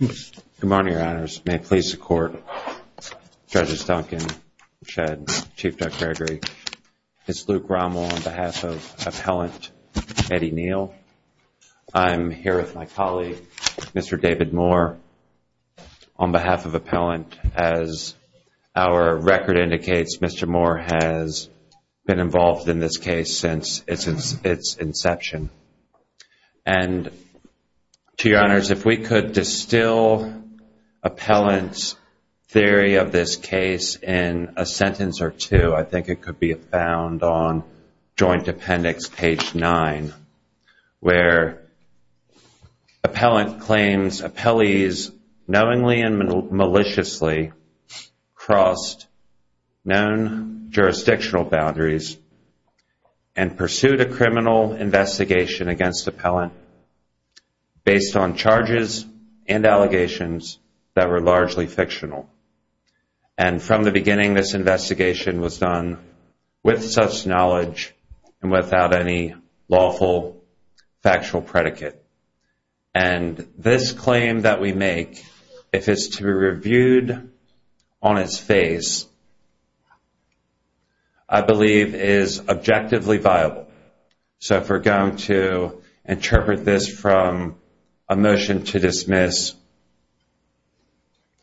Good morning, Your Honors. May it please the Court, Judges Duncan, Shedd, Chief Judge Gregory, Ms. Luke Rommel on behalf of Appellant Eddie Neal. I'm here with my colleague, Mr. David Moore, on behalf of Appellant. As our record indicates, Mr. Moore has been involved in this case since its inception. And to Your Honors, if we could distill Appellant's theory of this case in a sentence or two, I think it could be found on Joint Appendix page 9, where Appellant claims appellees knowingly and maliciously crossed known jurisdictional boundaries and pursued a criminal investigation against Appellant based on charges and allegations that were largely fictional. And from the beginning, this investigation was done with such knowledge and without any lawful factual predicate. And this claim that we make, if it's to be reviewed on its face, I believe is objectively viable. So if we're going to interpret this from a motion to dismiss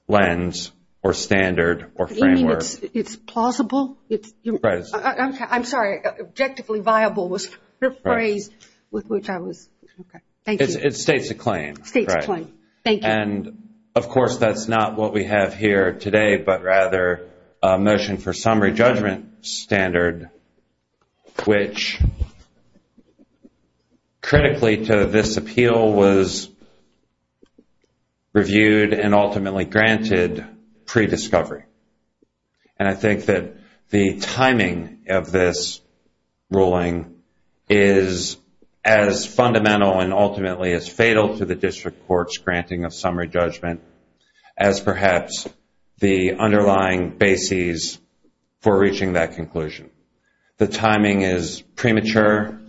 lens or standard or framework It's plausible? I'm sorry. Objectively viable was the phrase with which I was... It states a claim. And of course, that's not what we have here today, but rather a motion for which critically to this appeal was reviewed and ultimately granted pre-discovery. And I think that the timing of this ruling is as fundamental and ultimately as fatal to the District Court's granting of summary judgment as perhaps the underlying bases for reaching that conclusion. The timing is premature.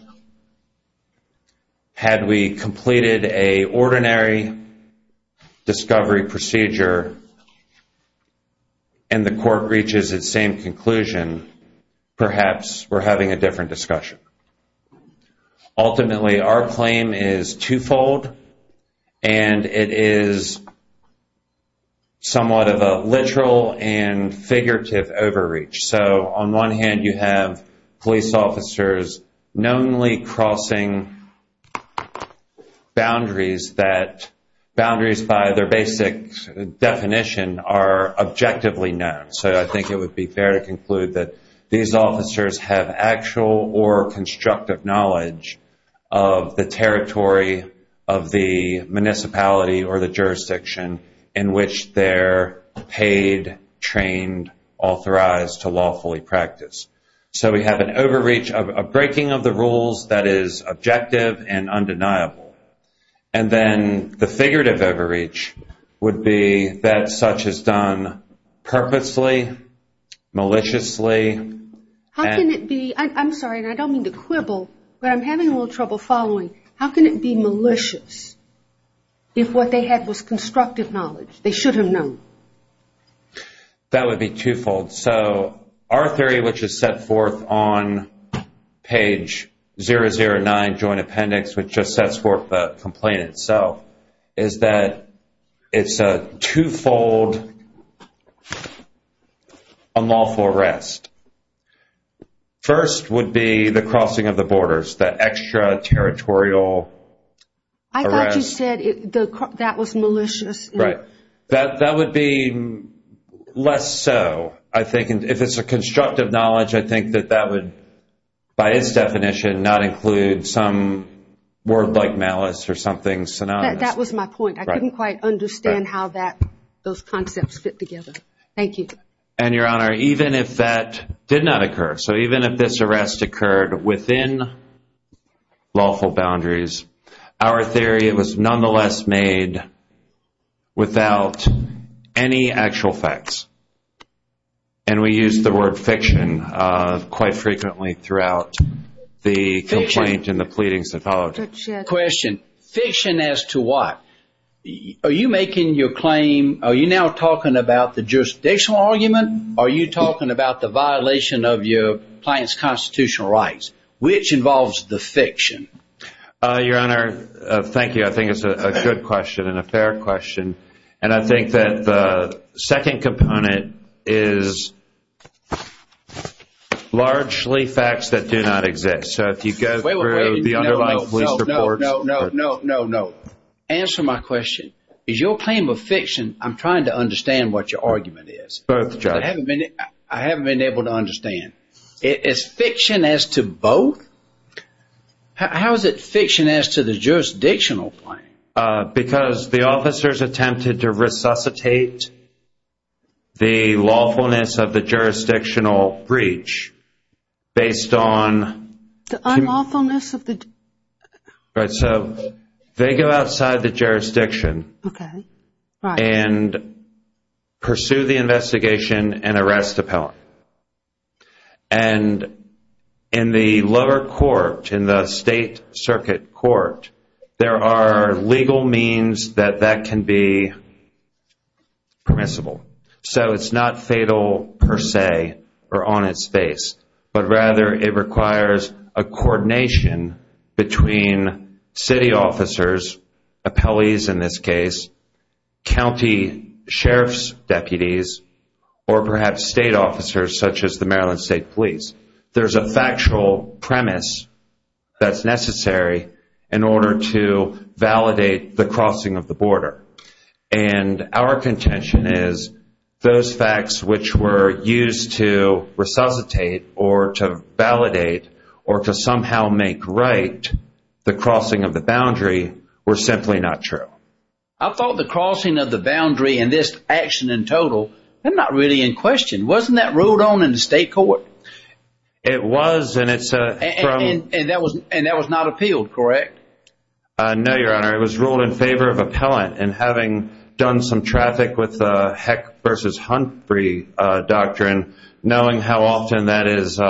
Had we completed an ordinary discovery procedure and the Court reaches its same conclusion perhaps we're having a different discussion. Ultimately, our claim is two-fold and it is somewhat of a figurative overreach. So on one hand you have police officers knowingly crossing boundaries that boundaries by their basic definition are objectively known. So I think it would be fair to conclude that these officers have actual or constructive knowledge of the territory of the municipality or the jurisdiction in which their paid, trained, authorized to lawfully practice. So we have an overreach of breaking of the rules that is objective and undeniable. And then the figurative overreach would be that such is done purposely, maliciously... I'm sorry, and I don't mean to quibble, but I'm having a little trouble following. How can it be malicious if what they had was constructive knowledge? They should have known. That would be two-fold. So our theory, which is set forth on page 009, Joint Appendix, which just sets forth the complaint itself, is that it's a two-fold unlawful arrest. First would be the crossing of the borders. The extra-territorial arrest. I thought you said that was malicious. Right. That would be less so, I think. If it's a constructive knowledge, I think that that would, by its definition, not include some word like malice or something synonymous. That was my point. I couldn't quite understand how those concepts fit together. Thank you. And, Your Honor, even if that did not occur, so even if this arrest occurred within lawful boundaries, our theory, it was nonetheless made without any actual facts. And we used the word fiction quite frequently throughout the complaint and the pleadings that followed. Fiction as to what? Are you making your claim, are you now talking about the jurisdictional argument, or are you talking about the violation of your client's constitutional rights? Which involves the fiction. Your Honor, thank you. I think it's a good question and a fair question. And I think that the second component is largely facts that do not exist. So if you go through the underlying police reports. No, no, no. Answer my question. Is your claim of fiction, I'm trying to understand what your argument is. I haven't been able to understand. Is fiction as to both? How is it fiction as to the jurisdictional claim? Because the officers attempted to resuscitate the lawfulness of the jurisdictional breach based on The unlawfulness of the... Right, so they go outside the jurisdiction. Okay. Right. And pursue the investigation and arrest the pellant. And in the lower court, in the state circuit court, there are legal means that that can be permissible. So it's not fatal per se or on its face. But rather it requires a coordination between city officers, appellees in this case, county sheriff's deputies, or perhaps state officers such as the Maryland State Police. There's a factual premise that's necessary in order to validate the crossing of the border. And our contention is those facts which were used to resuscitate or to validate or to somehow make right the crossing of the boundary were simply not true. I thought the crossing of the boundary and this action in total, they're not really in question. Wasn't that ruled on in the state court? It was. And that was not appealed, correct? No, Your Honor. It was ruled in favor of appellant. And having done some traffic with Heck v. Humphrey doctrine, knowing how often that is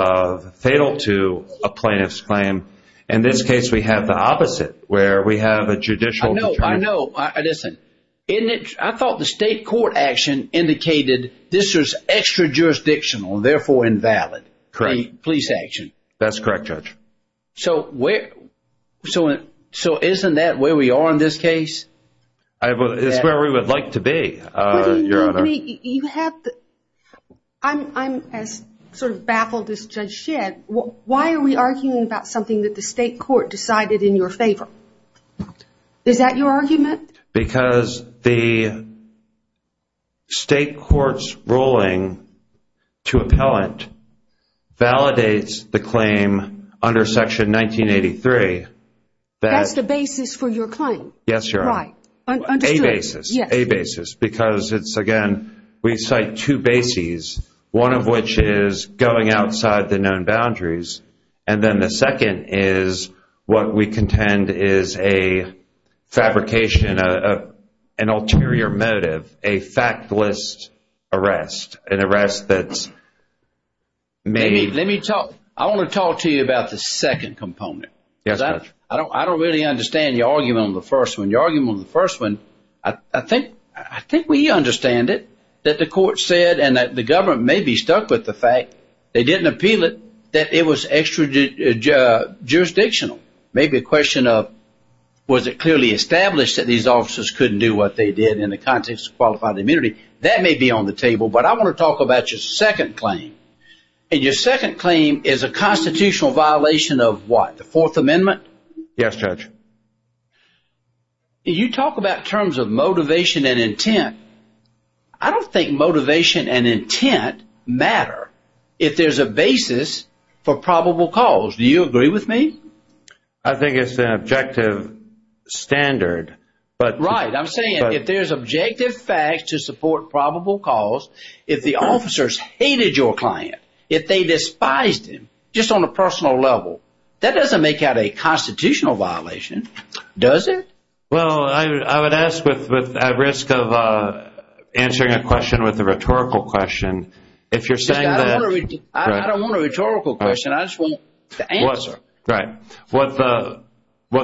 fatal to a plaintiff's claim, in this case we have the opposite where we have a judicial... I know. I thought the state court action indicated this was extra-jurisdictional, therefore invalid. The police action. That's correct, Judge. So isn't that where we are in this case? It's where we would like to be, Your Honor. I'm as sort of baffled as Judge Shedd. Why are we arguing about something that the state court decided in your favor? Is that your argument? Because the state court's ruling to appellant validates the claim under Section 1983 that... That's the basis for your claim. Yes, Your Honor. Right. Understood. A basis. Yes. A basis. Because it's, again, we cite two bases, one of which is going outside the known boundaries, and then the second is what we contend is a fabrication, an ulterior motive, a factless arrest, an arrest that's... I want to talk to you about the second component. Yes, Judge. I don't really understand your argument on the first one. Your argument on the first one, I think we understand it, that the court said, and that the government may be stuck with the fact they didn't appeal it, that it was jurisdictional. Maybe a question of was it clearly established that these officers couldn't do what they did in the context of qualified immunity? That may be on the table, but I want to talk about your second claim. And your second claim is a constitutional violation of what? The Fourth Amendment? Yes, Judge. You talk about terms of motivation and intent. I don't think motivation and intent matter if there's a basis for probable cause. Do you agree with me? I think it's an objective standard. Right. I'm saying if there's objective facts to support probable cause, if the officers hated your client, if they despised him, just on a personal level, that doesn't make out a constitutional violation, does it? Well, I would ask, at risk of answering a question with a rhetorical question, if you're saying that... I don't want a rhetorical question. I just want the answer. Right. What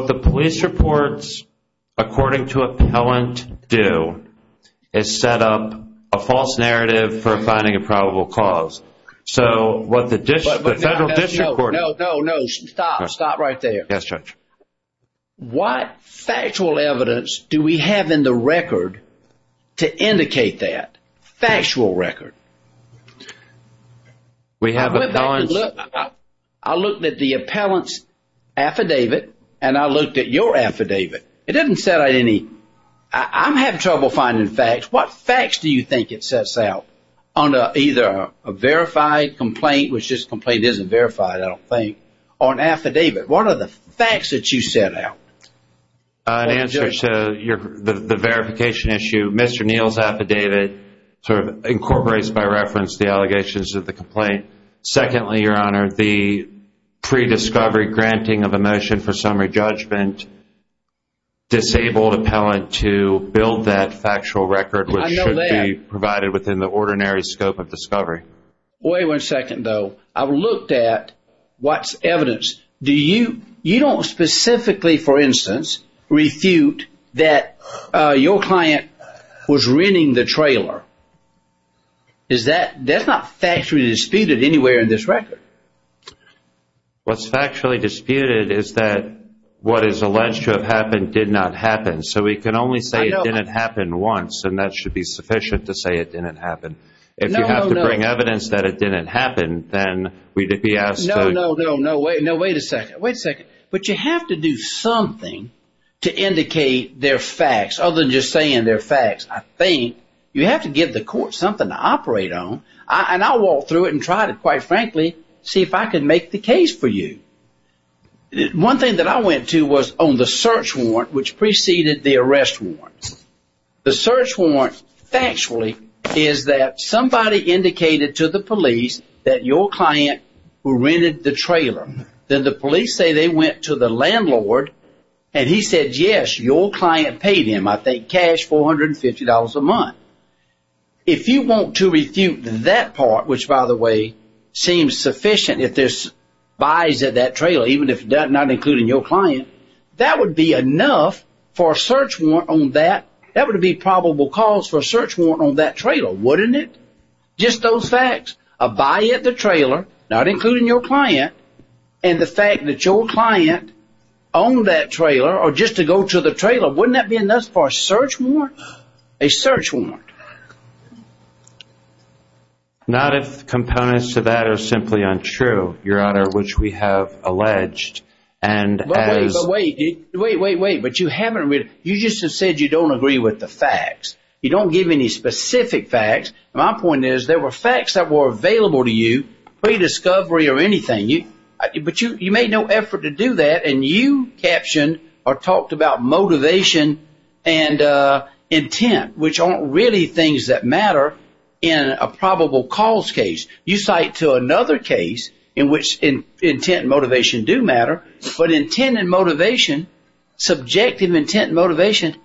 the police reports according to appellant do is set up a false narrative for finding a probable cause. So what the federal district court... No, no, no. Stop. Stop right there. Yes, Judge. What factual evidence do we have in the record to indicate that? Factual record? I looked at the appellant's affidavit and I looked at your affidavit. It didn't set out any... I'm having trouble finding facts. What facts do you think it sets out on either a verified complaint, which this complaint isn't verified I don't think, or an affidavit? What are the facts that you set out? In answer to the verification issue, Mr. Neal's affidavit incorporates by reference the allegations of the complaint. Secondly, Your Honor, the pre-discovery granting of a motion for summary judgment disabled appellant to build that factual record, which should be provided within the ordinary scope of discovery. Wait one second, though. I've looked at what's evidence. You don't specifically, for instance, refute that your client was renting the trailer. That's not factually disputed anywhere in this record. What's factually disputed is that what is alleged to have happened did not happen. So we can only say it didn't happen once, and that should be sufficient to say it didn't happen. If you have to bring evidence that it didn't happen, then we'd be asked to... No, no, no. Wait a second. But you have to do something to indicate they're facts, other than just saying they're facts. I think you have to give the court something to operate on. And I'll walk through it and try to, quite frankly, see if I can make the case for you. One thing that I went to was on the search warrant, which preceded the arrest warrant. The search warrant factually is that somebody indicated to the police that your client rented the trailer. Then the police say they went to the landlord and he said, yes, your client paid him, I think, cash, $450 a month. If you want to refute that part, which, by the way, seems sufficient if there's buys at that trailer, even if not including your client, that would be enough for a search warrant on that. That would be probable cause for a search warrant on that trailer, wouldn't it? Just those facts. A buy at the trailer, not including your client and the fact that your client owned that trailer, or just to go to the trailer, wouldn't that be enough for a search warrant? A search warrant. Not if components to that are simply untrue, Your Honor, which we have alleged. But wait, wait, wait. You just said you don't agree with the facts. You don't give any specific facts. My point is, there were facts that were available to you pre-discovery or anything. But you made no effort to do that and you captioned or talked about motivation and intent, which aren't really things that matter in a probable cause case. You cite to another case in which intent and motivation do matter, but intent and motivation, subjective intent and motivation,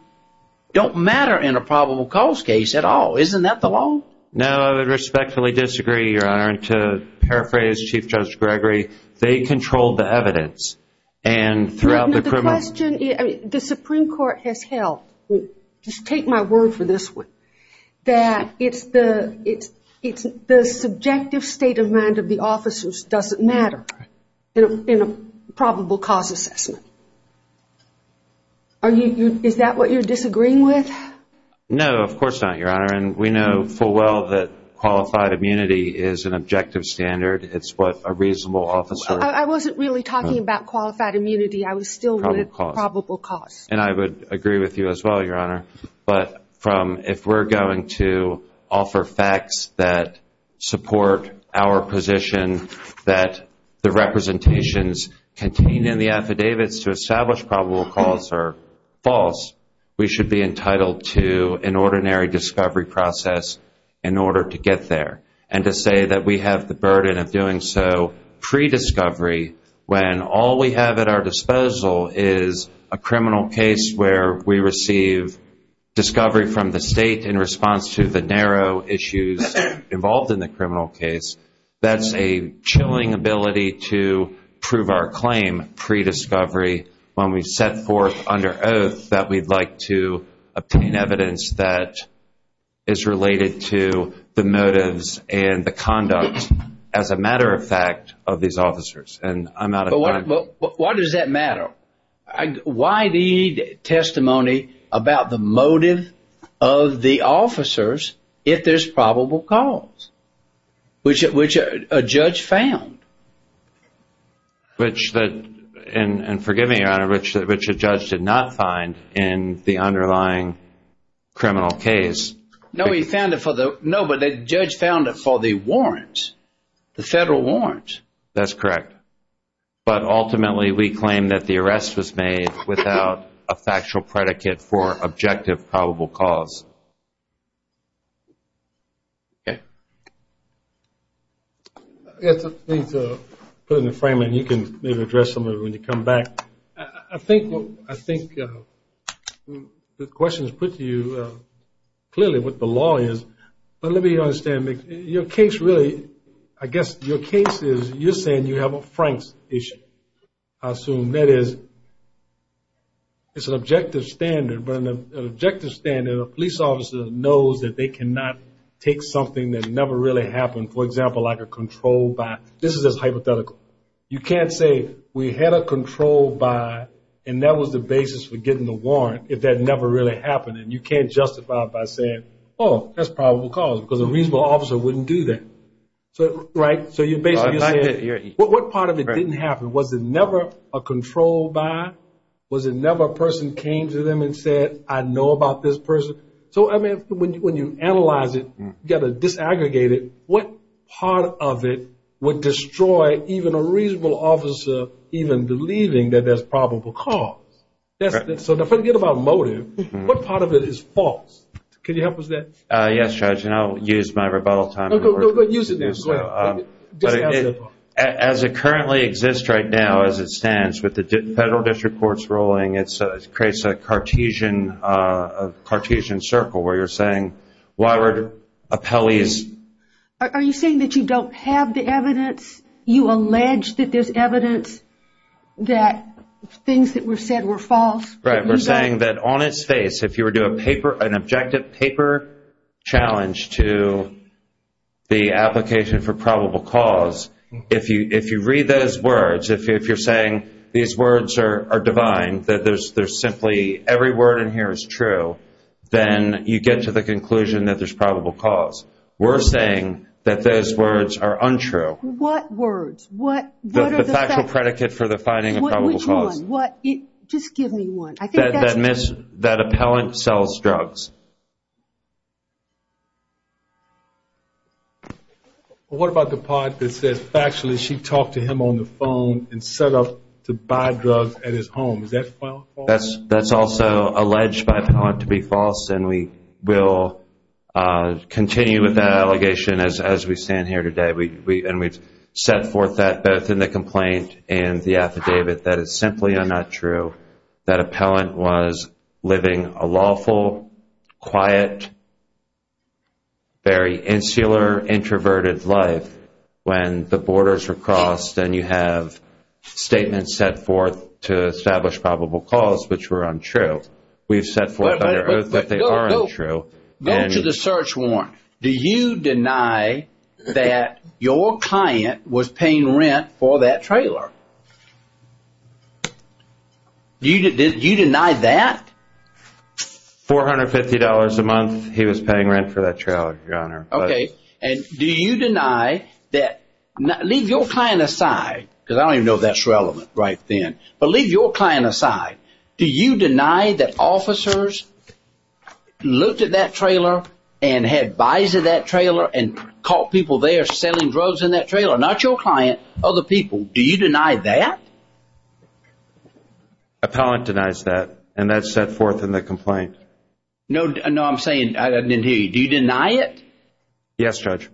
don't matter in a probable cause case at all. Isn't that the law? No, I would respectfully disagree, Your Honor. And to paraphrase Chief Judge Gregory, they controlled the evidence. The Supreme Court has held, just take my word for this one, that the subjective state of mind of the officers doesn't matter in a probable cause assessment. Is that what you're disagreeing with? No, of course not, Your Honor. And we know full well that qualified immunity is an objective standard. It's what a reasonable officer I wasn't really talking about qualified immunity. I was still with probable cause. And I would agree with you as well, Your Honor. But from if we're going to offer facts that support our position that the representations contained in the affidavits to establish probable cause are false, we should be entitled to an ordinary discovery process in order to get there. And to say that we have the burden of doing so pre-discovery when all we have at our disposal is a criminal case where we receive discovery from the state in response to the narrow issues involved in the criminal case, that's a chilling ability to prove our claim pre-discovery when we set forth under oath that we'd like to obtain evidence that is related to the motives and the conduct, as a matter of fact, of these officers. And I'm out of time. But why does that matter? Why need testimony about the motive of the officers if there's probable cause? Which a judge found. And forgive me, Your Honor, which a judge did not find in the underlying criminal case. No, but the judge found it for the warrants, the federal warrants. That's correct. But ultimately we claim that the arrest was made without a factual predicate for objective probable cause. Okay. I have something to put in the frame and you can maybe address some of it when you come back. I think the question is put to you clearly what the law is. But let me understand. Your case really, I guess your case is, you're saying you have a Franks issue. I assume that is, it's an objective standard but an objective standard, a police officer knows that they cannot take something that never really happened. For example, like a controlled buy. This is just hypothetical. You can't say we had a controlled buy and that was the basis for getting the warrant if that never really happened. And you can't justify it by saying, oh, that's probable cause because a reasonable officer wouldn't do that. Right? So you're basically saying, what part of it didn't happen? Was it never a controlled buy? Was it never a person came to them and said, I know about this person? So I mean, when you analyze it, you've got to disaggregate it. What part of it would destroy even a reasonable officer even believing that there's probable cause? So forget about motive. What part of it is false? Can you help us with that? Yes, Judge, and I'll use my rebuttal time. No, use it now. As it currently exists right now as it stands with the Federal District Courts ruling, it creates a Cartesian circle where you're saying, why would appellees... Are you saying that you don't have the evidence? You allege that there's evidence that things that were said were false? Right. We're saying that on its face, if you were to do a paper an objective paper challenge to the application for probable cause, if you read those words are divine, that there's simply every word in here is true, then you get to the conclusion that there's probable cause. We're saying that those words are untrue. What words? What are the facts? The factual predicate for the finding of probable cause. Just give me one. That appellant sells drugs. What about the part that says factually she talked to him on the side drugs at his home. Is that false? That's also alleged by the appellant to be false and we will continue with that allegation as we stand here today. And we've set forth that both in the complaint and the affidavit that it's simply not true. That appellant was living a lawful quiet, very insular introverted life when the borders were crossed and you have statements set forth to establish probable cause which were untrue. We've set forth under oath that they are untrue. Go to the search warrant. Do you deny that your client was paying rent for that trailer? Do you deny that? $450 a month he was paying rent for that trailer, your honor. Okay, and do you deny that leave your client aside because I don't even know if that's relevant right then but leave your client aside. Do you deny that officers looked at that trailer and had buys at that trailer and caught people there selling drugs in that trailer? Not your client other people. Do you deny that? Appellant denies that and that's set forth in the complaint. No, I'm saying I didn't hear you. Do you deny it? Yes, Judge.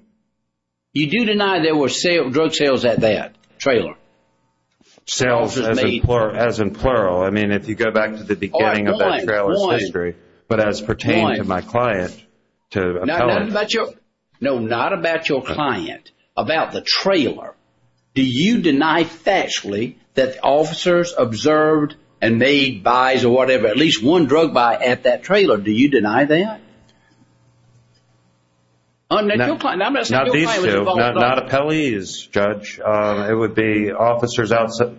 You do deny there were drug sales at that trailer. Sales as in plural. I mean if you go back to the beginning of that trailer's history but as pertained to my client to appellant. No, not about your client about the trailer. Do you deny factually that officers observed and made buys or whatever at least one drug buy at that trailer. Do you deny that? Not these two not appellees, Judge. It would be officers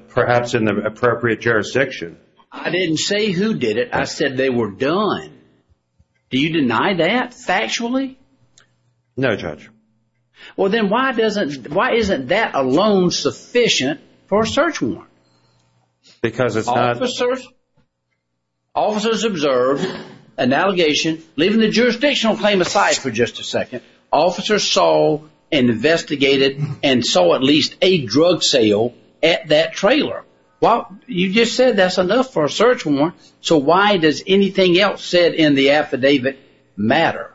perhaps in the appropriate jurisdiction. I didn't say who did it I said they were done. Do you deny that factually? No, Judge. Well then why doesn't why isn't that alone sufficient for a search warrant? Because it's not. Officers observed an allegation, leaving the jurisdictional claim aside for just a second officers saw and investigated and saw at least a drug sale at that trailer. Well, you just said that's enough for a search warrant so why does anything else said in the affidavit matter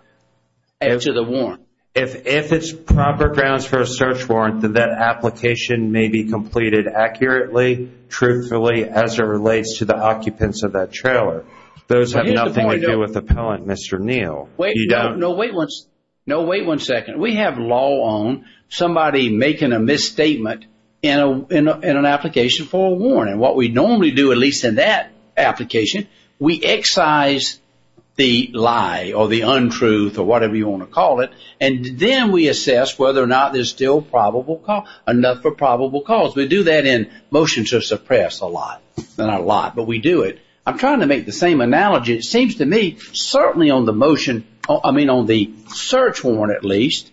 to the warrant? If it's proper grounds for a search warrant then that application may be completed accurately, truthfully as it relates to the occupants of that trailer. Those have nothing to do with the appellant, Mr. Neal. No, wait one second. We have law on somebody making a misstatement in an application for a warrant. What we normally do, at least in that application, we excise the lie or the untruth or whatever you want to call it and then we assess whether or not there's still enough for probable cause. We do that in motion to suppress a lot not a lot, but we do it. I'm trying to make the same analogy. It seems to me certainly on the motion, I mean on the search warrant at least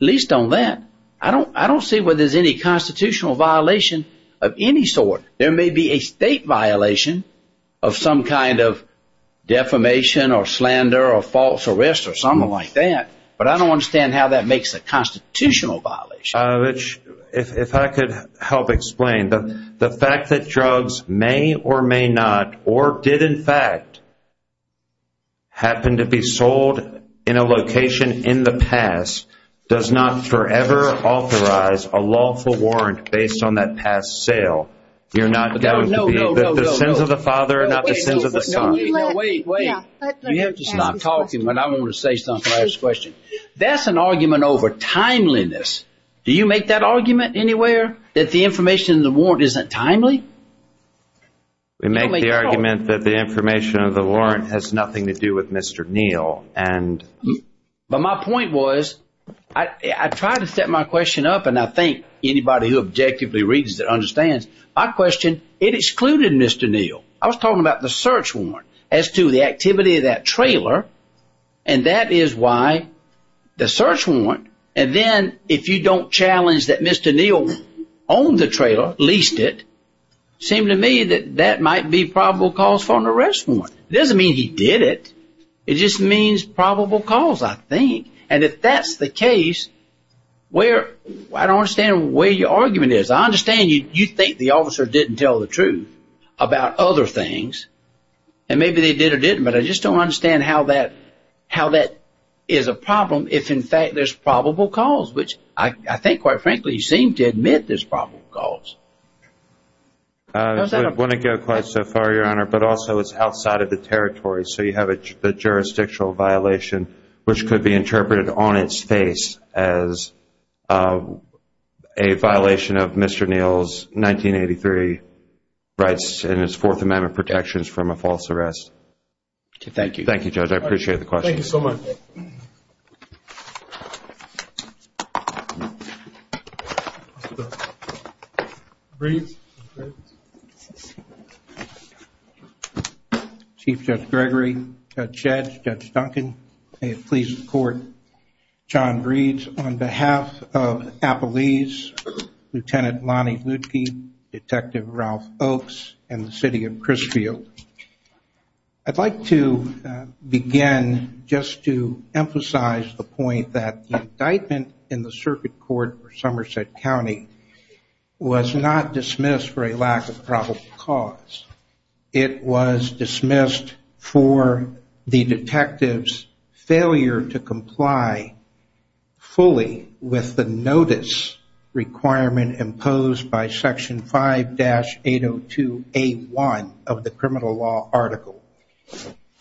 at least on that, I don't see where there's any constitutional violation of any sort. There may be a state violation of some kind of defamation or slander or false arrest or something like that, but I don't understand how that makes a constitutional violation. Rich, if I could help explain the fact that drugs may or may not or did in fact happen to be sold in a location in the past does not forever authorize a lawful warrant based on that past sale. The sins of the father are not the sins of the son. You have to stop talking when I want to say something. That's an argument over timeliness. Do you make that argument anywhere that the information in the warrant isn't timely? We make the argument that the information of the warrant has nothing to do with Mr. Neal. But my point was I try to set my question up and I think anybody who objectively reads it understands. My question, it excluded Mr. Neal. I was talking about the search warrant as to the activity of that trailer and that is why the search warrant and then if you don't challenge that Mr. Neal owned the trailer, leased it, it seemed to me that that might be probable cause for an arrest warrant. It doesn't mean he did it. It just means probable cause I think. And if that's the case, I don't understand where your argument is. I understand you think the officer didn't tell the truth about other things and maybe they did or didn't but I just don't understand how that is a problem if in fact there's probable cause, which I think quite frankly you seem to admit there's probable cause. I wouldn't go quite so far, Your Honor, but also it's outside of the territory so you have a jurisdictional violation which could be interpreted on its face as a violation of Mr. Neal's 1983 rights and his Fourth Amendment protections from a false arrest. Thank you. Thank you, Judge. I appreciate the question. Thank you so much. Chief Judge Gregory, Judge Schatz, Judge Duncan, may it please the court. John Breeds on behalf of Appalese, Lieutenant Lonnie Lutke, Detective Ralph Oaks, and the City of Crisfield. I'd like to begin just to emphasize the point that the indictment in the circuit court for Somerset County was not dismissed for a lack of probable cause. It was dismissed for the detective's failure to comply fully with the notice requirement imposed by Section 5-802A1 of the Criminal Code.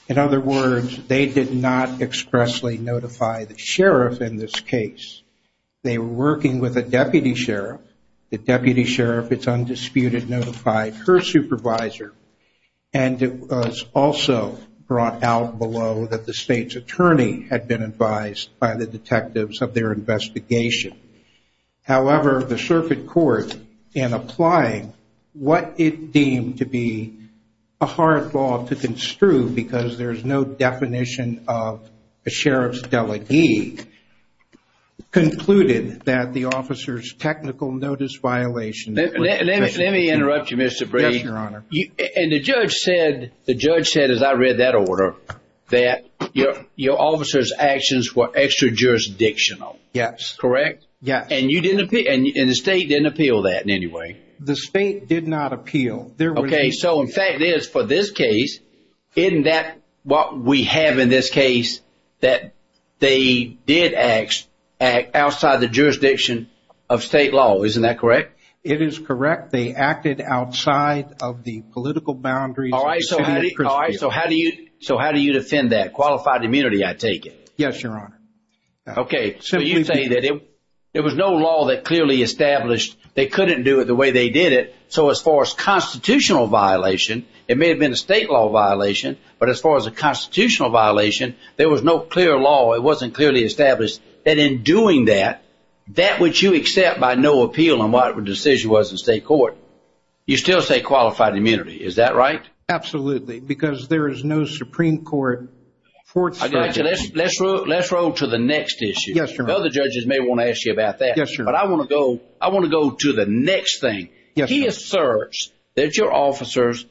In other words, they did not expressly notify the sheriff in this case. They were working with a deputy sheriff. The deputy sheriff, it's undisputed, notified her supervisor and it was also brought out below that the state's attorney had been advised by the detectives of their investigation. However, the circuit court in applying what it deemed to be a hard law to construe because there's no definition of a sheriff's delegee concluded that the officer's technical notice violation Let me interrupt you, Mr. Breeds. And the judge said as I read that order, that your officer's actions were extra-jurisdictional. Correct? Yes. And the state didn't appeal that in any way? The state did not appeal. Okay. So the fact is, for this case, isn't that what we have in this case, that they did act outside the jurisdiction of state law. Isn't that correct? It is correct. They acted outside of the political boundaries of the city of Princeville. So how do you defend that? Qualified immunity, I take it. Yes, Your Honor. Okay. So you say that it was no law that clearly established they couldn't do it the way they did it. So as far as constitutional violation, it may have been a state law violation, but as far as a constitutional violation, there was no clear law. It wasn't clearly established. And in doing that, that which you accept by no appeal on what the decision was in state court, you still say qualified immunity. Is that right? Absolutely. Because there is no Supreme Court court statute. Let's roll to the next issue. Yes, Your Honor. The other judges may want to ask you about that. Yes, Your Honor. But I want to go to the next thing. He asserts that your officers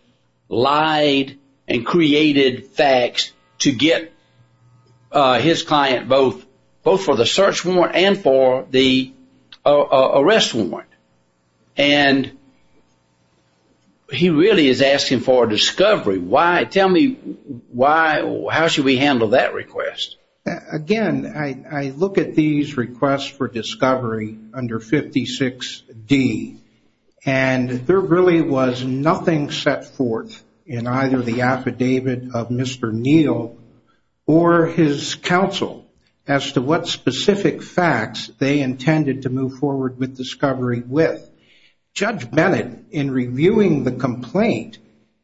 lied and created facts to get his client both for the search warrant and for the arrest warrant. And he really is asking for a discovery. Tell me how should we handle that request? Again, I look at these requests for discovery under 56D and there really was nothing set forth in either the affidavit of Mr. Neal or his counsel as to what specific facts they intended to move forward with discovery with. Judge Bennett in reviewing the complaint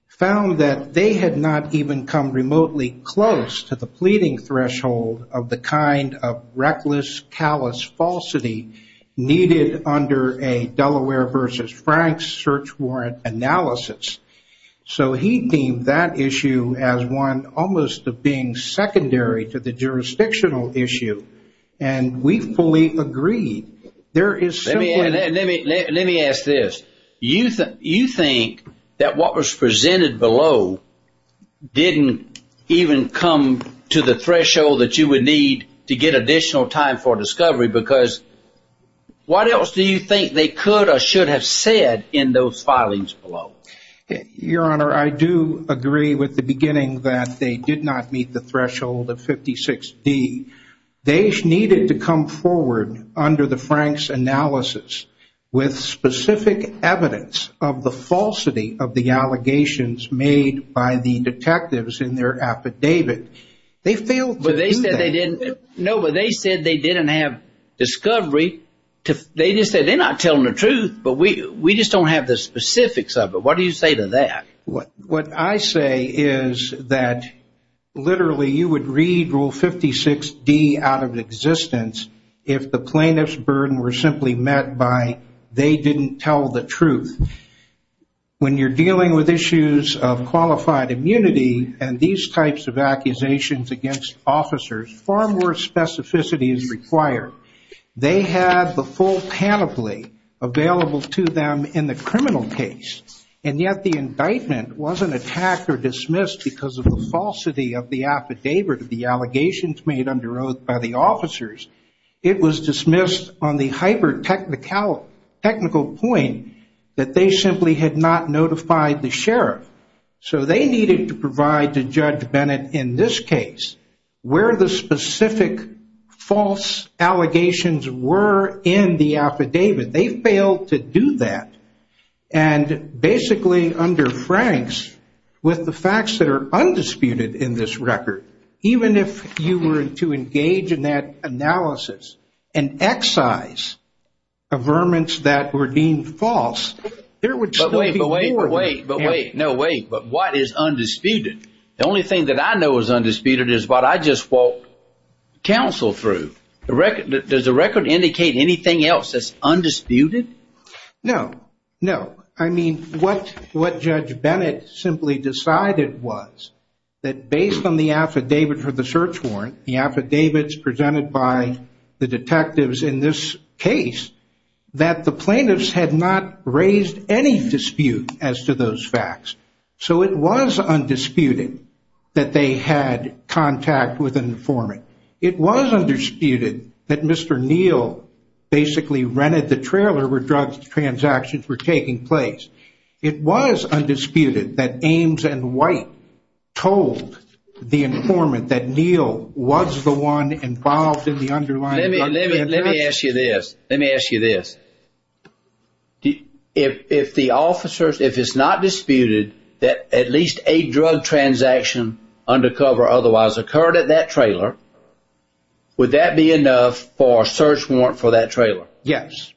found that they had not even come remotely close to the pleading threshold of the kind of reckless, callous falsity needed under a Delaware v. Franks search warrant analysis. So he deemed that issue as one almost of being secondary to the jurisdictional issue. And we fully agree. There is Let me ask this. You think that what was presented below didn't even come to the threshold that you would need to get additional time for discovery because what else do you think they could or should have said in those filings below? Your Honor, I do agree with the beginning that they did not meet the threshold of 56D. They needed to come forward under the Franks analysis with specific evidence of the falsity of the allegations made by the detectives in their affidavit. They failed to do that. No, but they said they didn't have discovery. They just said they're not telling the truth, but we just don't have the specifics of it. What do you say to that? What I say is that literally you would read Rule 56D out of existence if the plaintiff's burden were simply met by they didn't tell the truth. When you're dealing with issues of qualified immunity and these types of accusations against officers, far more specificity is required. They had the full panoply available to them in the criminal case, and yet the indictment wasn't attacked or dismissed because of the falsity of the affidavit of the allegations made under oath by the officers. It was dismissed on the hyper-technical point that they simply had not notified the sheriff. So they needed to provide to Judge Bennett in this case where the specific false allegations were in the affidavit. They failed to do that. And basically under Franks, with the facts that are undisputed in this record, even if you were to engage in that analysis and excise averments that were deemed false, there would still be more. But what is undisputed? The only thing that I know is undisputed is what I just walked counsel through. Does the record indicate anything else that's undisputed? No. What Judge Bennett simply decided was that based on the affidavit for the search warrant, the affidavits presented by the detectives in this case, that the plaintiffs had not raised any dispute as to those facts. So it was undisputed that they had contact with an informant. It was undisputed that Mr. Neal basically rented the trailer where drug transactions were taking place. It was undisputed that Ames and White told the informant that Neal was the one involved in the underlying Let me ask you this. If it's not disputed that at least a drug transaction under cover otherwise occurred at that trailer, would that be enough for a search warrant for that trailer? Yes.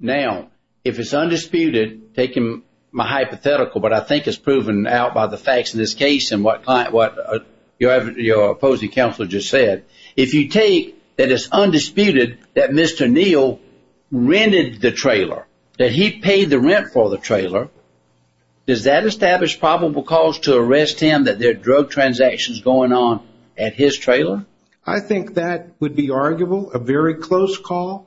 Now, if it's undisputed, taking my hypothetical, but I think it's proven out by the facts in this case and what your opposing counselor just said, if you take that it's undisputed that Mr. Neal rented the trailer, that he paid the rent for the trailer, does that establish probable cause to arrest him that there are drug transactions going on at his trailer? I think that would be arguable, a very close call.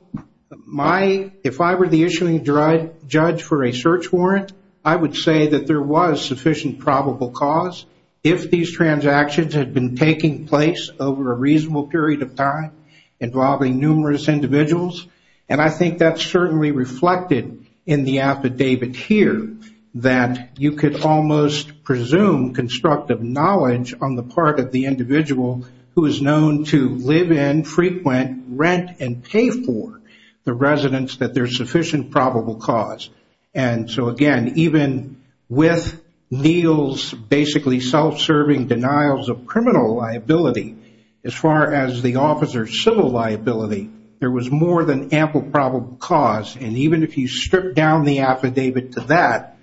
If I were the issuing judge for a search warrant, I would say that there was sufficient probable cause. If these transactions had been taking place over a reasonable period of time involving numerous individuals, and I think that's certainly reflected in the affidavit here, that you could almost presume constructive knowledge on the part of the individual who is known to live in, frequent, rent, and pay for the residence that there's sufficient probable cause. Again, even with Neal's basically self-serving denials of criminal liability, as far as the officer's civil liability, there was more than ample probable cause, and even if you stripped down the affidavit to that,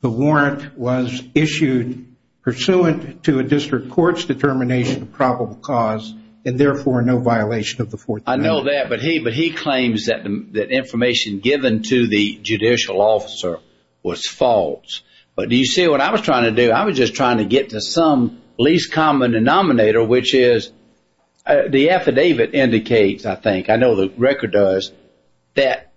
the warrant was issued pursuant to a district court's determination of probable cause, and therefore no violation of the Fourth Amendment. I know that, but he claims that information given to the judicial officer was false. But do you see what I was trying to do? I was just trying to get to some least common denominator, which is the affidavit indicates I think, I know the record does, that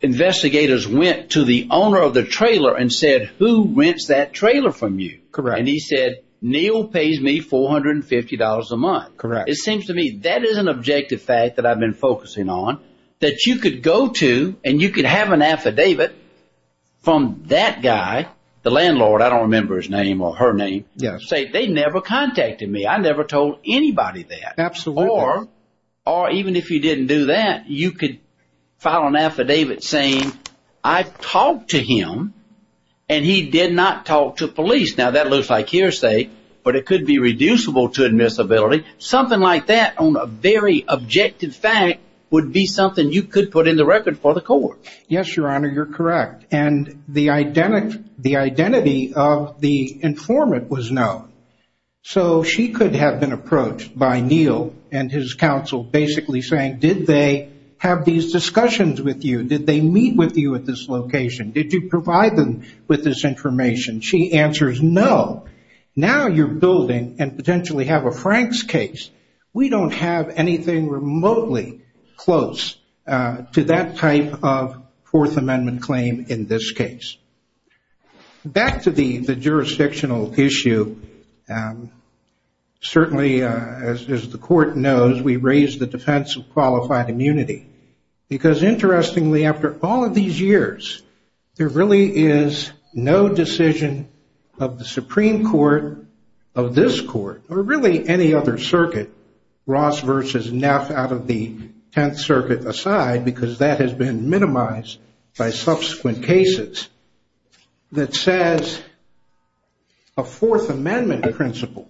investigators went to the owner of the trailer and said, who rents that trailer from you? And he said, Neal pays me $450 a month. It seems to me that is an objective fact that I've been focusing on, that you could go to, and you could have an affidavit from that guy, the landlord, I don't remember his name or her name, say they never contacted me. I never told anybody that. Or, even if you didn't do that, you could file an affidavit saying, I've talked to him and he did not talk to police. Now that looks like hearsay, but it could be reducible to admissibility. Something like that on a very objective fact would be something you could put in the record for the court. Yes, Your Honor, you're correct. And the identity of the informant was known. So she could have been approached by Neal and his counsel basically saying, did they have these discussions with you? Did they meet with you at this location? Did you provide them with this information? She answers, no. Now you're building and potentially have a Frank's case. We don't have anything remotely close to that type of Fourth Amendment claim in this case. Back to the jurisdictional issue, certainly as the court knows, we raise the defense of qualified immunity. Because interestingly, after all of these years, there really is no decision of the Supreme Court of this court, or really any other circuit, Ross versus Neff out of the Tenth Circuit aside, because that has been minimized by subsequent cases, that says a Fourth Amendment principle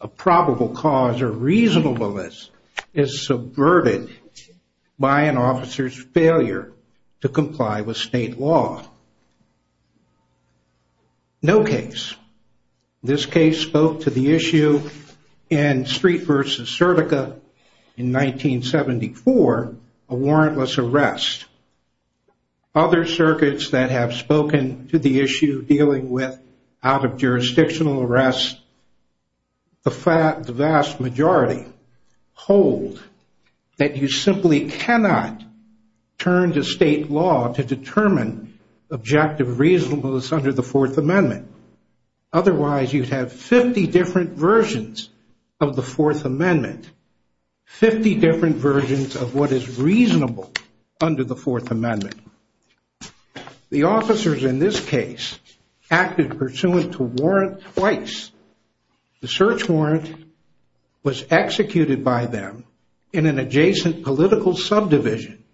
of probable cause or reasonableness is subverted by an officer's failure to comply with state law. No case. This case spoke to the issue in Street versus Sertica in 1974, a warrantless arrest. Other circuits that have spoken to the issue dealing with out of jurisdictional arrest, the vast majority hold that you simply cannot turn to state law to determine objective reasonableness under the Fourth Amendment. Otherwise you'd have 50 different versions of the Fourth Amendment. 50 different versions of what is reasonable under the Fourth Amendment. The officers in this case acted pursuant to warrant twice. The search warrant was executed by them in an adjacent political subdivision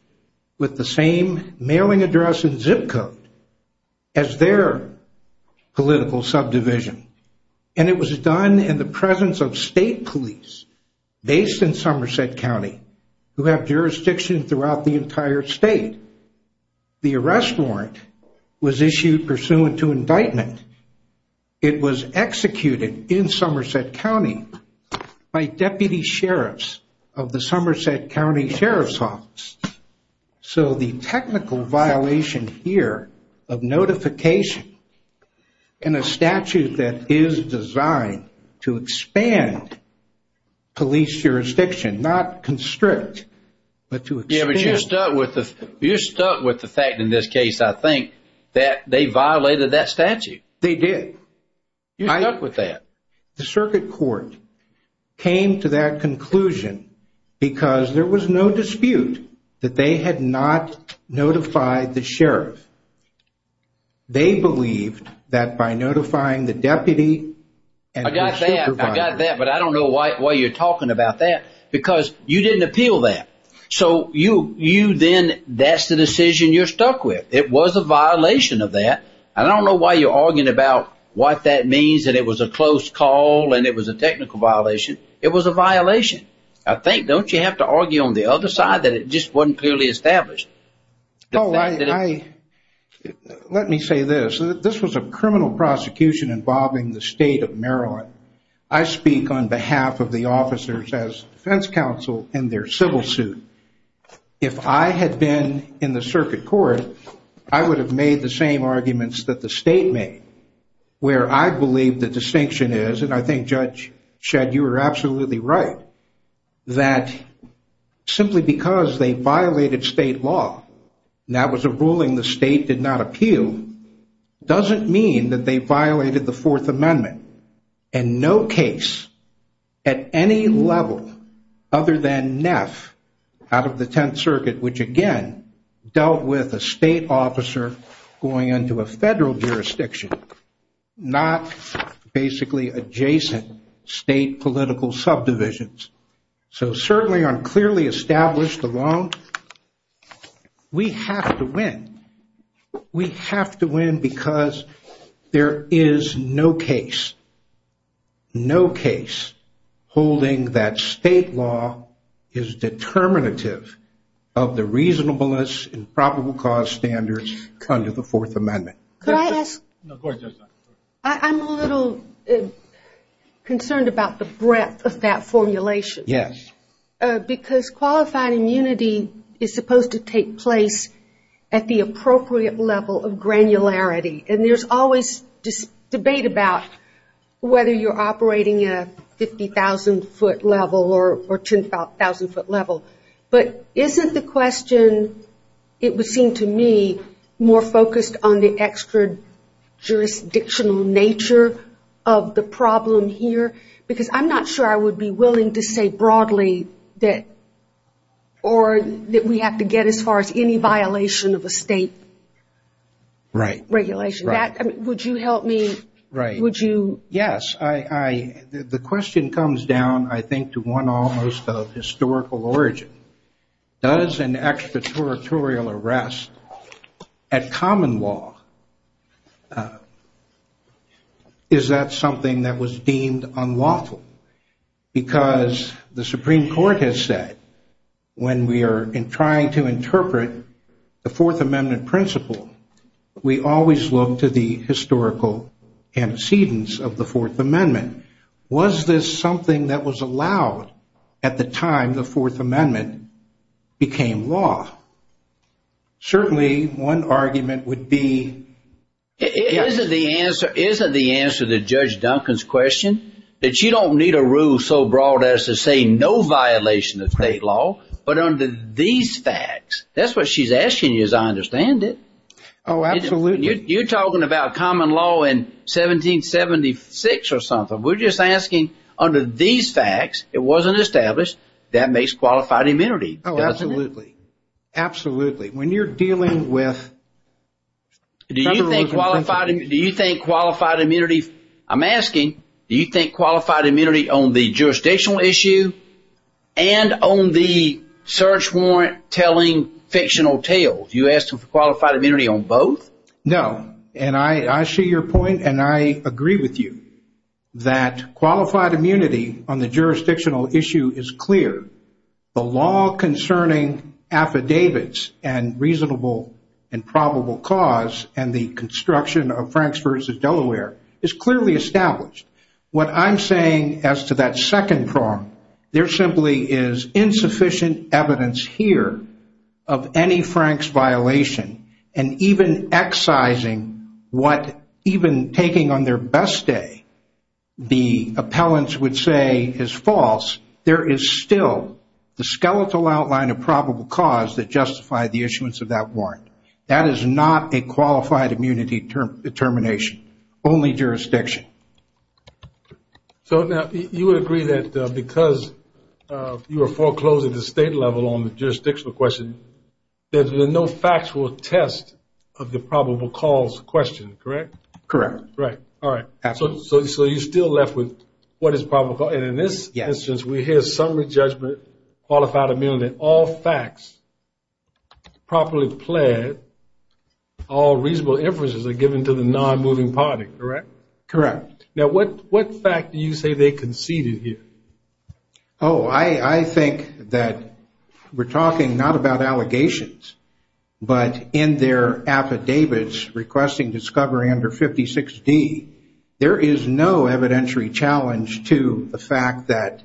with the same mailing address and zip code as their political subdivision. And it was done in the presence of state police based in Somerset County who have jurisdiction throughout the entire state. The arrest warrant was issued pursuant to indictment. It was executed in Somerset County by deputy sheriffs of the Somerset County Sheriff's Office. So the technical violation here of justification in a statute that is designed to expand police jurisdiction not constrict but to expand. You're stuck with the fact in this case I think that they violated that statute. They did. You're stuck with that. The circuit court came to that conclusion because there was no dispute that they had not notified the sheriff. They believed that by notifying the deputy. I got that but I don't know why you're talking about that because you didn't appeal that. So you then that's the decision you're stuck with. It was a violation of that. I don't know why you're arguing about what that means that it was a close call and it was a technical violation. It was a violation. I think don't you have to argue on the other side that it just wasn't clearly established. Let me say this. This was a criminal prosecution involving the state of Maryland. I speak on behalf of the officers as defense counsel in their civil suit. If I had been in the circuit court I would have made the same arguments that the state made where I believe the distinction is and I think Judge Shedd you are absolutely right that simply because they violated state law and that was a ruling the state did not appeal doesn't mean that they violated the fourth amendment in no case at any level other than NEF out of the 10th circuit which again dealt with a state officer going into a federal jurisdiction not basically adjacent state political subdivisions. So certainly unclearly established along we have to win. We have to win because there is no case no case holding that state law is determinative of the reasonableness and probable cause standards under the fourth amendment. I'm a little concerned about the breadth of that formulation. Because qualified immunity is supposed to take place at the appropriate level of granularity and there's always debate about whether you're operating at a 50,000 foot level or 10,000 foot level. But isn't the question it would seem to me more focused on the extra jurisdictional nature of the problem here because I'm not sure I would be willing to say broadly that we have to get as far as any violation of a state regulation. Would you help me? Yes, the question comes down I think to one almost of historical origin. Does an extra territorial arrest at common law is that something that was deemed unlawful? Because the Supreme Court has said when we are trying to interpret the fourth amendment principle we always look to the historical antecedents of the fourth amendment. Was this something that was allowed at the time the fourth amendment became law? Certainly one argument would be... Isn't the answer to Judge Duncan's question that you don't need a rule so broad as to say no violation of state law but under these facts. That's what she's asking you as I understand it. Oh, absolutely. You're talking about common law in 1776 or something. We're just asking under these facts it wasn't established that makes qualified immunity. Oh, absolutely. When you're dealing with Do you think qualified immunity I'm asking, do you think qualified immunity on the jurisdictional issue and on the search warrant telling fictional tales? You asked for qualified immunity on both? No, and I see your point and I agree with you that qualified immunity on the jurisdictional issue is clear. The law concerning affidavits and reasonable and probable cause and the construction of Franks versus Delaware is clearly established. What I'm saying as to that second prong, there simply is insufficient evidence here of any Franks violation and even excising what even taking on their best day the appellants would say is false, there is still the skeletal outline of probable cause that justify the issuance of that warrant. That is not a qualified immunity determination. Only jurisdiction. So now you would agree that because you are foreclosing the state level on the jurisdictional question there's been no factual test of the probable cause question, correct? Correct. So you're still left with what is probable cause, and in this instance we hear summary judgment qualified immunity, all facts properly pled, all reasonable inferences are given to the non-moving party, correct? Correct. Now what fact do you say they conceded here? Oh, I think that we're talking not about allegations, but in their affidavits requesting discovery under 56D there is no evidentiary challenge to the fact that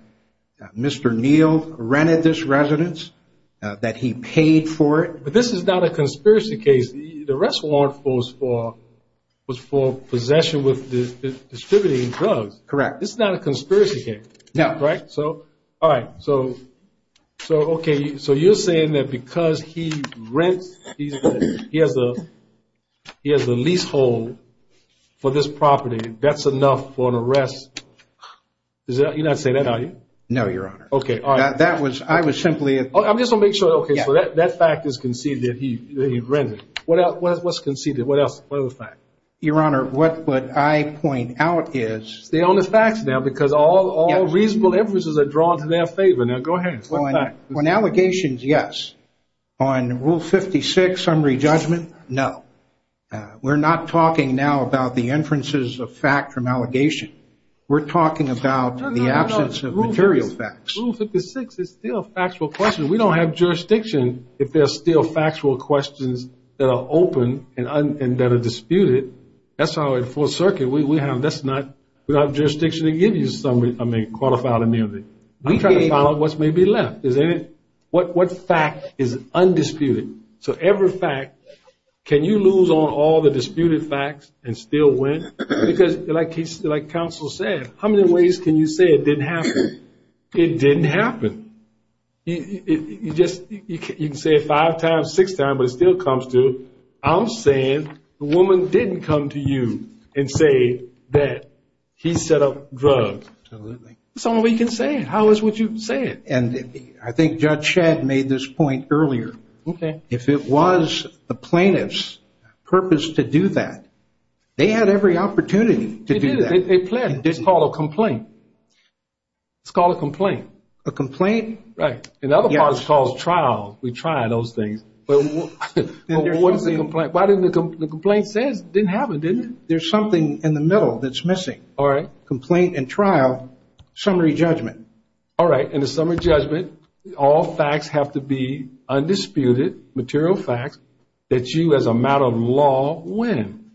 Mr. Neal rented this residence, that he paid for it. But this is not a conspiracy case, the arrest warrant was for possession with distributing drugs. Correct. This is not a conspiracy case, correct? No. Alright, so you're saying that because he rents, he has a lease hold for this property, that's enough for an arrest? You're not saying that, are you? No, Your Honor. I'm just going to make sure, so that fact is conceded that he rented. What else was conceded? What other fact? Your Honor, what I point out is... Stay on the facts now, because all reasonable inferences are drawn to their favor. Now go ahead. On allegations, yes. On Rule 56, summary judgment, no. We're not talking now about the inferences of fact from allegation. We're talking about the absence of material facts. Rule 56 is still factual questions. We don't have jurisdiction if there are still factual questions that are open and that are disputed. That's how in the Fourth Circuit we have, that's not we don't have jurisdiction to give you a summary, I mean, a qualified amendment. We try to follow what may be left. What fact is undisputed? So every fact, can you lose on all the disputed facts and still win? Because like counsel said, how many ways can you say it didn't happen? It didn't happen. You can say it five times, six times, but it still comes to I'm saying the woman didn't come to you and say that he set up drugs. That's the only way you can say it. How else would you say it? And I think Judge Shedd made this point earlier. If it was the plaintiff's purpose to do that, they had every opportunity to do that. They planned it. It's called a complaint. It's called a complaint. A complaint? Right. In other parts it's called trial. We try those things. What is a complaint? The complaint says it didn't happen, didn't it? There's something in the middle that's missing. Complaint and trial, summary judgment. All right, and the summary judgment, all facts have to be undisputed, material facts, that you as a matter of law win.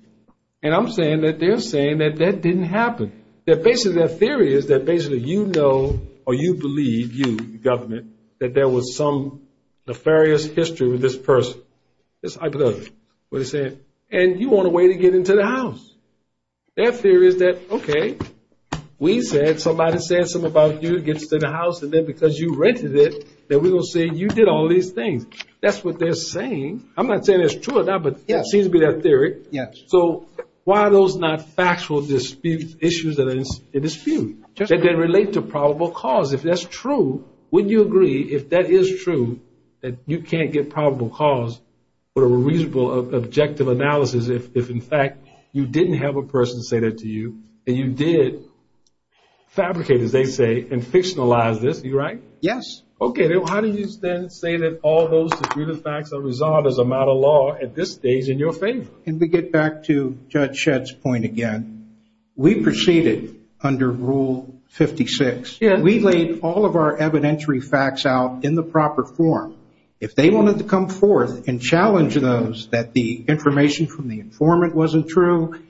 And I'm saying that they're saying that that didn't happen. Their theory is that basically you know or you believe you, the government, that there was some nefarious history with this person. That's what they're saying. And you want a way to get into the house. Their theory is that, okay, we said, somebody said something about you, gets to the house, and then because you rented it, then we're going to say you did all these things. That's what they're saying. I'm not saying that's true or not, but that seems to be their theory. So, why are those not factual issues that are in dispute? They relate to probable cause. If that's true, wouldn't you agree, if that is true, that you can't get probable cause with a reasonable objective analysis if in fact you didn't have a person say that to you, and you did fabricate, as they say, and fictionalize this. Are you right? Yes. Okay. How do you then say that all those facts are resolved as a matter of law at this stage in your favor? Can we get back to Judge Shedd's point again? We proceeded under Rule 56. We laid all of our evidentiary facts out in the proper form. If they wanted to come forth and challenge those, that the information from the informant wasn't true,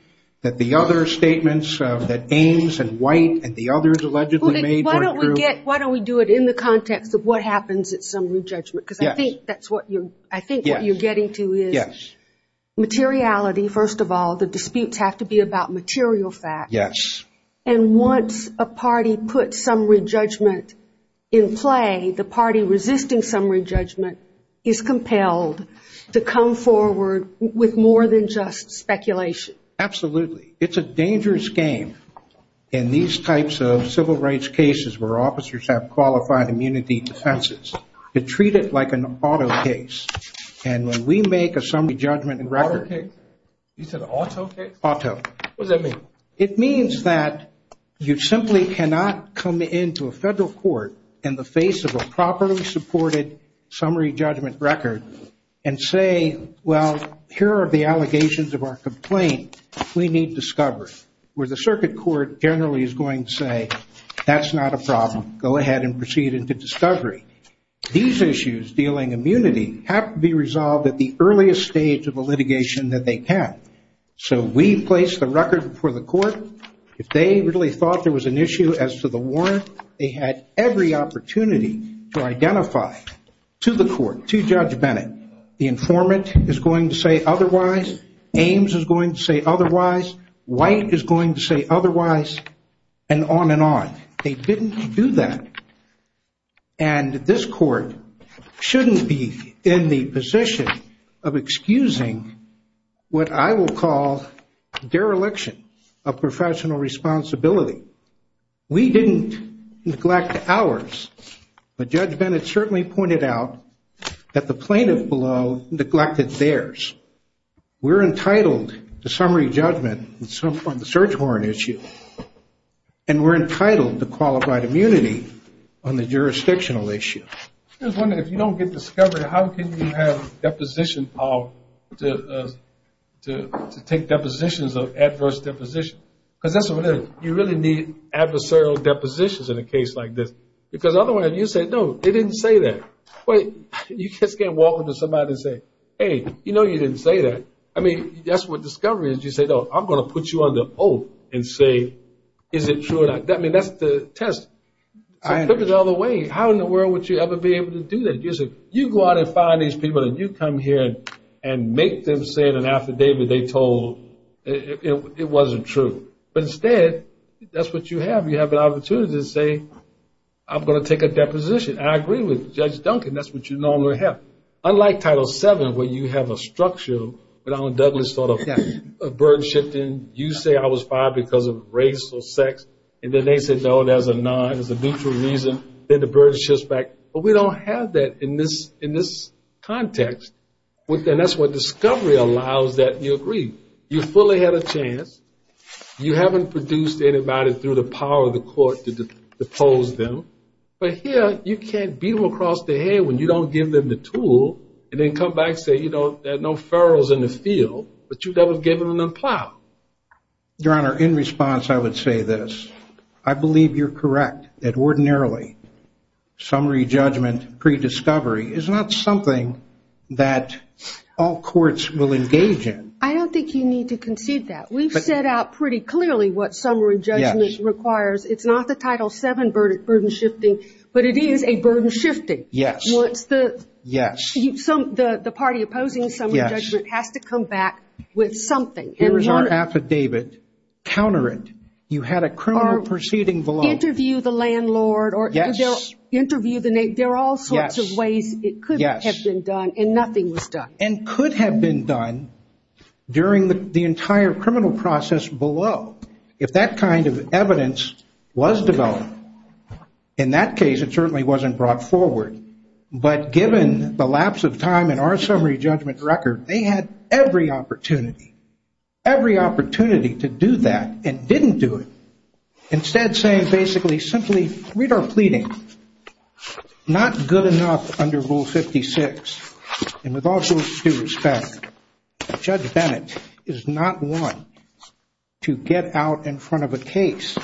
that the other statements, that Ames and White and the others allegedly made weren't true. Why don't we do it in the context of what happens at summary judgment? Because I think that's what you're getting to is materiality, first of all. The disputes have to be about material facts. Yes. And once a party puts summary judgment in play, the party resisting summary judgment is compelled to come forward with more than just speculation. Absolutely. It's a dangerous game in these types of civil rights cases where officers have qualified immunity defenses, to treat it like an auto case. And when we make a summary judgment record... You said auto case? Auto. What does that mean? It means that you simply cannot come into a federal court in the face of a properly supported summary judgment record and say, well, here are the allegations of our complaint. We need discovery. Where the circuit court generally is going to say, that's not a problem. Go ahead and proceed into discovery. These issues dealing immunity have to be resolved at the earliest stage of the litigation that they can. So we place the record before the court. If they really thought there was an issue as to the warrant, they had every opportunity to identify to the court, to Judge Bennett, the informant is going to say otherwise, Ames is going to say otherwise, White is going to say otherwise, and on and on. They didn't do that. And this court shouldn't be in the position of excusing what I will call dereliction of professional responsibility. We didn't neglect ours. But Judge Bennett certainly pointed out that the plaintiff below neglected theirs. We're entitled to summary judgment on the search warrant issue. And we're entitled to qualified immunity on the jurisdictional issue. I was wondering, if you don't get discovery, how can you have deposition to take depositions of adverse deposition? Because that's what it is. You really need adversarial depositions in a case like this. Because otherwise, you say, no, they didn't say that. Wait, you just can't walk up to somebody and say, hey, you know you didn't say that. I mean, that's what discovery is. You say, no, I'm going to put you under hope and say, is it true or not? I mean, that's the test. I took it all the way. How in the world would you ever be able to do that? You go out and find these people and you come here and make them say in an affidavit they told it wasn't true. But instead, that's what you have. You have an opportunity to say, I'm going to take a deposition. And I agree with Judge Duncan. That's what you normally have. Unlike Title VII, where you have a structural, what Allen Douglas thought of burden shifting. You say I was fired because of race or sex. And then they say, no, there's a neutral reason. Then the burden shifts back. But we don't have that in this context. And that's what discovery allows, that you agree. You fully had a chance. You haven't produced anybody through the power of the court to depose them. But here, you can't beat them across the head when you don't give them the tool and then come back and say, you know, there are no ferals in the field. But you never gave them the plow. Your Honor, in response, I would say this. I believe you're correct that ordinarily summary judgment pre-discovery is not something that all courts will engage in. I don't think you need to concede that. We've set out pretty clearly what summary judgment requires. It's not the Title VII burden shifting. But it is a burden shifting. The party opposing summary judgment has to come back with something. Here's our affidavit. Counter it. You had a criminal proceeding below. Interview the landlord. There are all sorts of ways it could have been done and nothing was done. And could have been done during the entire criminal process below if that kind of evidence was developed. In that case, it certainly wasn't brought forward. But given the lapse of time in our summary judgment record, they had every opportunity, every opportunity to do that and didn't do it. Instead saying basically simply read our pleading. Not good enough under Rule 56. And with all due respect, Judge Bennett is not one to get out in front of a case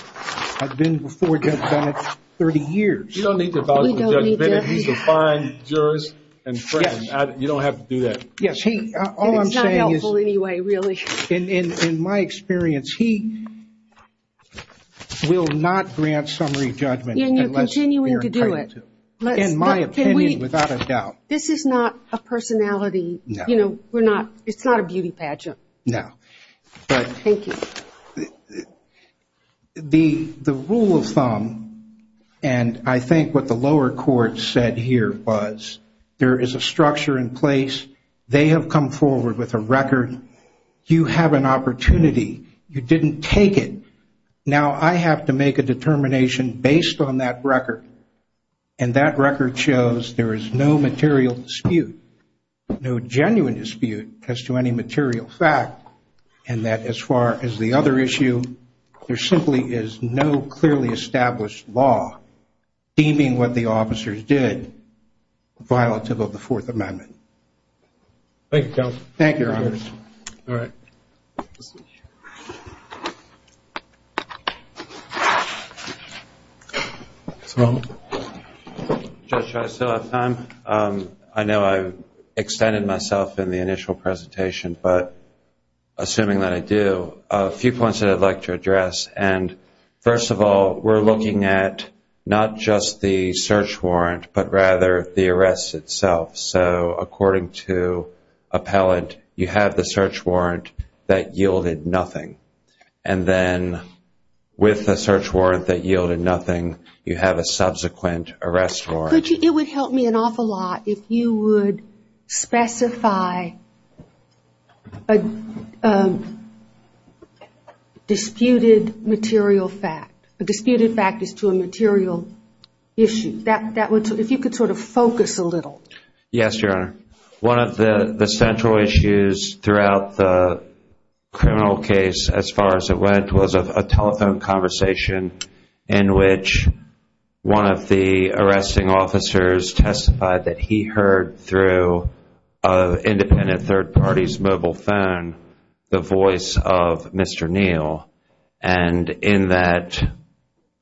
that's been before Judge Bennett 30 years. You don't need to vouch for Judge Bennett. He's a fine jurist and friend. You don't have to do that. It's not helpful anyway really. In my experience, he will not grant summary judgment unless you're entitled to. In my opinion, without a doubt. This is not a personality it's not a beauty pageant. Thank you. The rule of thumb and I think what the lower court said here was there is a structure in place. They have come forward with a record. You have an opportunity. You didn't take it. Now I have to make a determination based on that record. And that record shows there is no material dispute. No genuine dispute as to any material fact. And that as far as the other issue, there simply is no clearly established law deeming what the officers did violative of the Fourth Amendment. Judge, do I still have time? I know I extended myself in the initial presentation, but assuming that I do, a few points that I'd like to address. First of all, we're looking at not just the search warrant, but rather the arrest itself. So according to appellant, you have the search warrant that yielded nothing. And then with the search warrant that yielded nothing, you have a subsequent arrest warrant. It would help me an awful lot if you would specify a disputed material fact. A disputed fact is to a material issue. If you could sort of focus a little. Yes, Your Honor. One of the central issues throughout the criminal case as far as it went was a telephone conversation in which one of the arresting officers testified that he heard through an independent third party's mobile phone the voice of Mr. Neal. And in that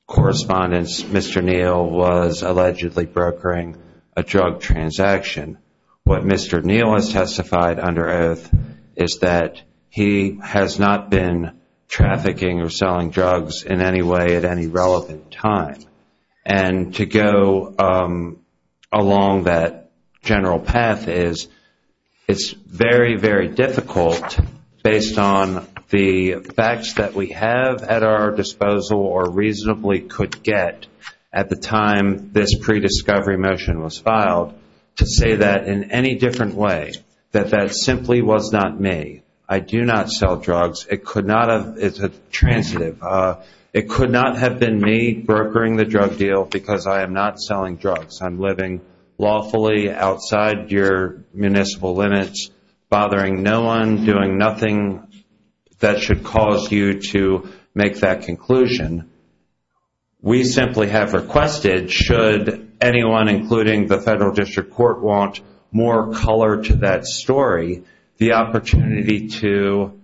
correspondence, Mr. Neal was allegedly brokering a drug transaction. What Mr. Neal has testified under oath is that he has not been trafficking or selling drugs in any way at any relevant time. And to go along that general path is, it's very very difficult, based on the facts that we have at our disposal or reasonably could get at the time this prediscovery motion was filed, to say that in any different way, that that simply was not me. I do not sell drugs. It could not have, it's a transitive. It could not have been me brokering the drug deal because I am not selling drugs. I'm living lawfully outside your municipal limits, bothering no one, doing nothing that should cause you to make that conclusion. We simply have requested, should anyone including the federal district court want more color to that story, the opportunity to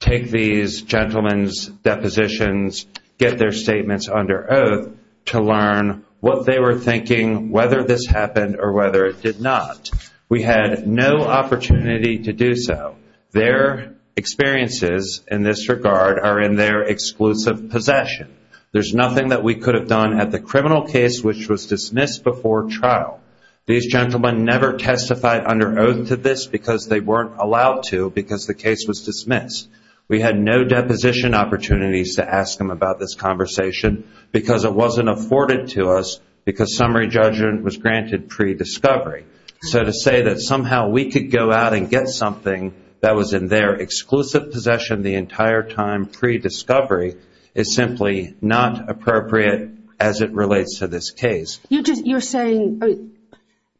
take these gentlemen's depositions, get their statements under oath to learn what they were thinking, whether this happened or whether it did not. We had no opportunity to do so. Their experiences in this regard are in their exclusive possession. There's nothing that we could have done at the criminal case which was dismissed before trial. These gentlemen never testified under oath to this because they weren't allowed to because the case was dismissed. We had no deposition opportunities to ask them about this conversation because it wasn't afforded to us because summary judgment was granted prediscovery. So to say that somehow we could go out and get something that was in their exclusive possession the entire time prediscovery is simply not appropriate as it relates to this case. You're saying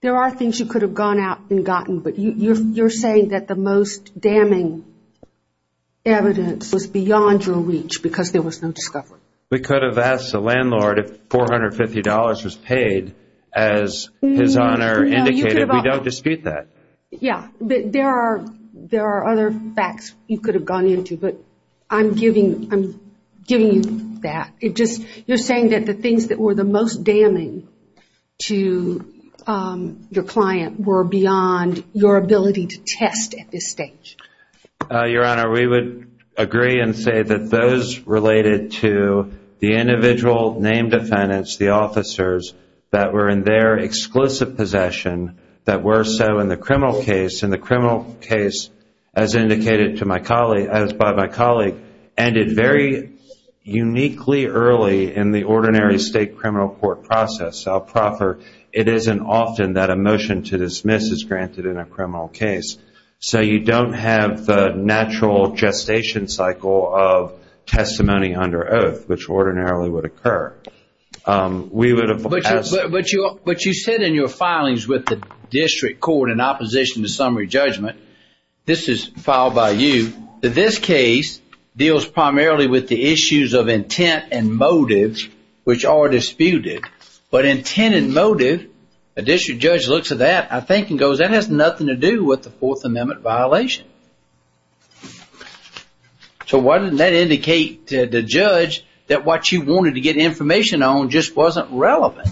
there are things you could have gone out and gotten but you're saying that the most damning evidence was beyond your reach because there was no discovery. We could have asked the landlord if $450 was paid as his honor indicated. We don't dispute that. Yeah, but there are other facts you could have gone into but I'm giving you that. You're saying that the things that were the most damaging to your client were beyond your ability to test at this stage. Your Honor, we would agree and say that those related to the individual named defendants, the officers that were in their exclusive possession that were so in the criminal case as indicated by my colleague ended very uniquely early in the ordinary state criminal court process. It isn't often that a motion to dismiss is granted in a criminal case. So you don't have the natural gestation cycle of testimony under oath which ordinarily would occur. But you said in your filings with the district court in opposition to summary judgment, this is filed by you, that this case deals primarily with the issues of intent and motives which are disputed. But intent and motive, a district judge looks at that and goes that has nothing to do with the Fourth Amendment violation. So why didn't that indicate to the judge that what you wanted to get information on just wasn't relevant?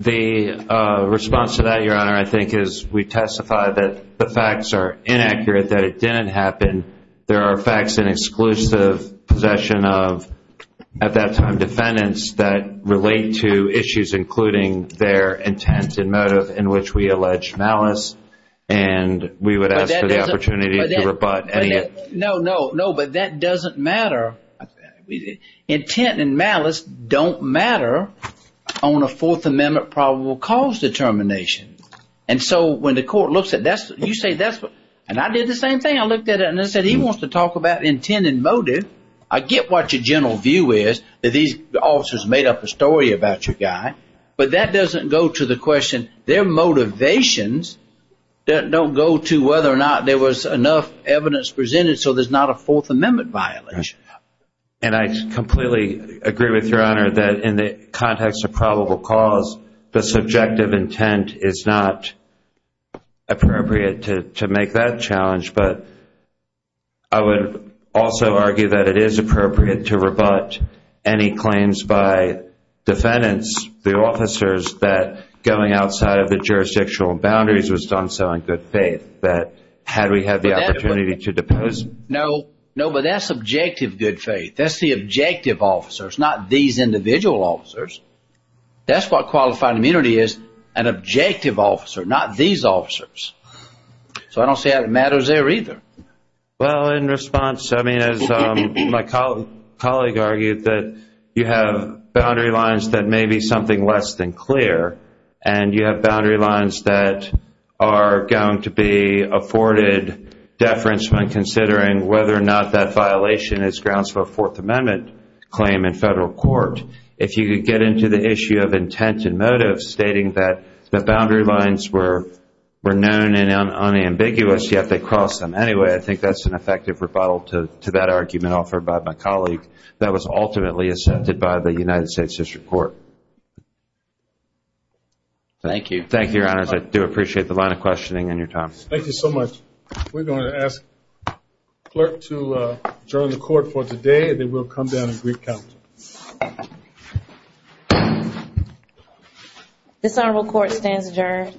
The response to that, Your Honor, I think is we testify that the facts are inaccurate, that it didn't happen. There are facts in exclusive possession of, at that time, defendants that relate to issues including their intent and motive in which we allege malice and we would ask for the opportunity to rebut any of that. No, no, no, but that doesn't matter. Intent and malice don't matter on a Fourth Amendment probable cause determination. And so when the court looks at that, you say that's what, and I did the same thing, I looked at it and I said he wants to talk about intent and motive. I get what your general view is that these officers made up a story about your guy, but that doesn't go to the question. Their motivations don't go to whether or not there was enough evidence presented so there's not a Fourth Amendment violation. And I completely agree with Your Honor that in the context of probable cause, the subjective intent is not appropriate to make that challenge, but I would also argue that it is appropriate to rebut any claims by defendants, the officers, that going outside of the jurisdictional boundaries was done so in good faith that had we had the opportunity to depose them. No, no, but that's subjective good faith. That's the objective officers, not these individual officers. That's what qualified immunity is, an objective officer, not these officers. So I don't see how it matters there either. Well, in response, as my colleague argued, you have boundary lines that may be something less than clear and you have boundary lines that are going to be afforded deference when considering whether or not that violation is grounds for a Fourth Amendment claim in federal court. If you could get into the issue of intent and motive, stating that boundary lines were known and unambiguous, yet they crossed them. Anyway, I think that's an effective rebuttal to that argument offered by my colleague that was ultimately accepted by the United States District Court. Thank you. Thank you, Your Honors. I do appreciate the line of questioning and your time. Thank you so much. We're going to ask the clerk to adjourn the court for today and then we'll come down and recount. This Honorable Court stands adjourned.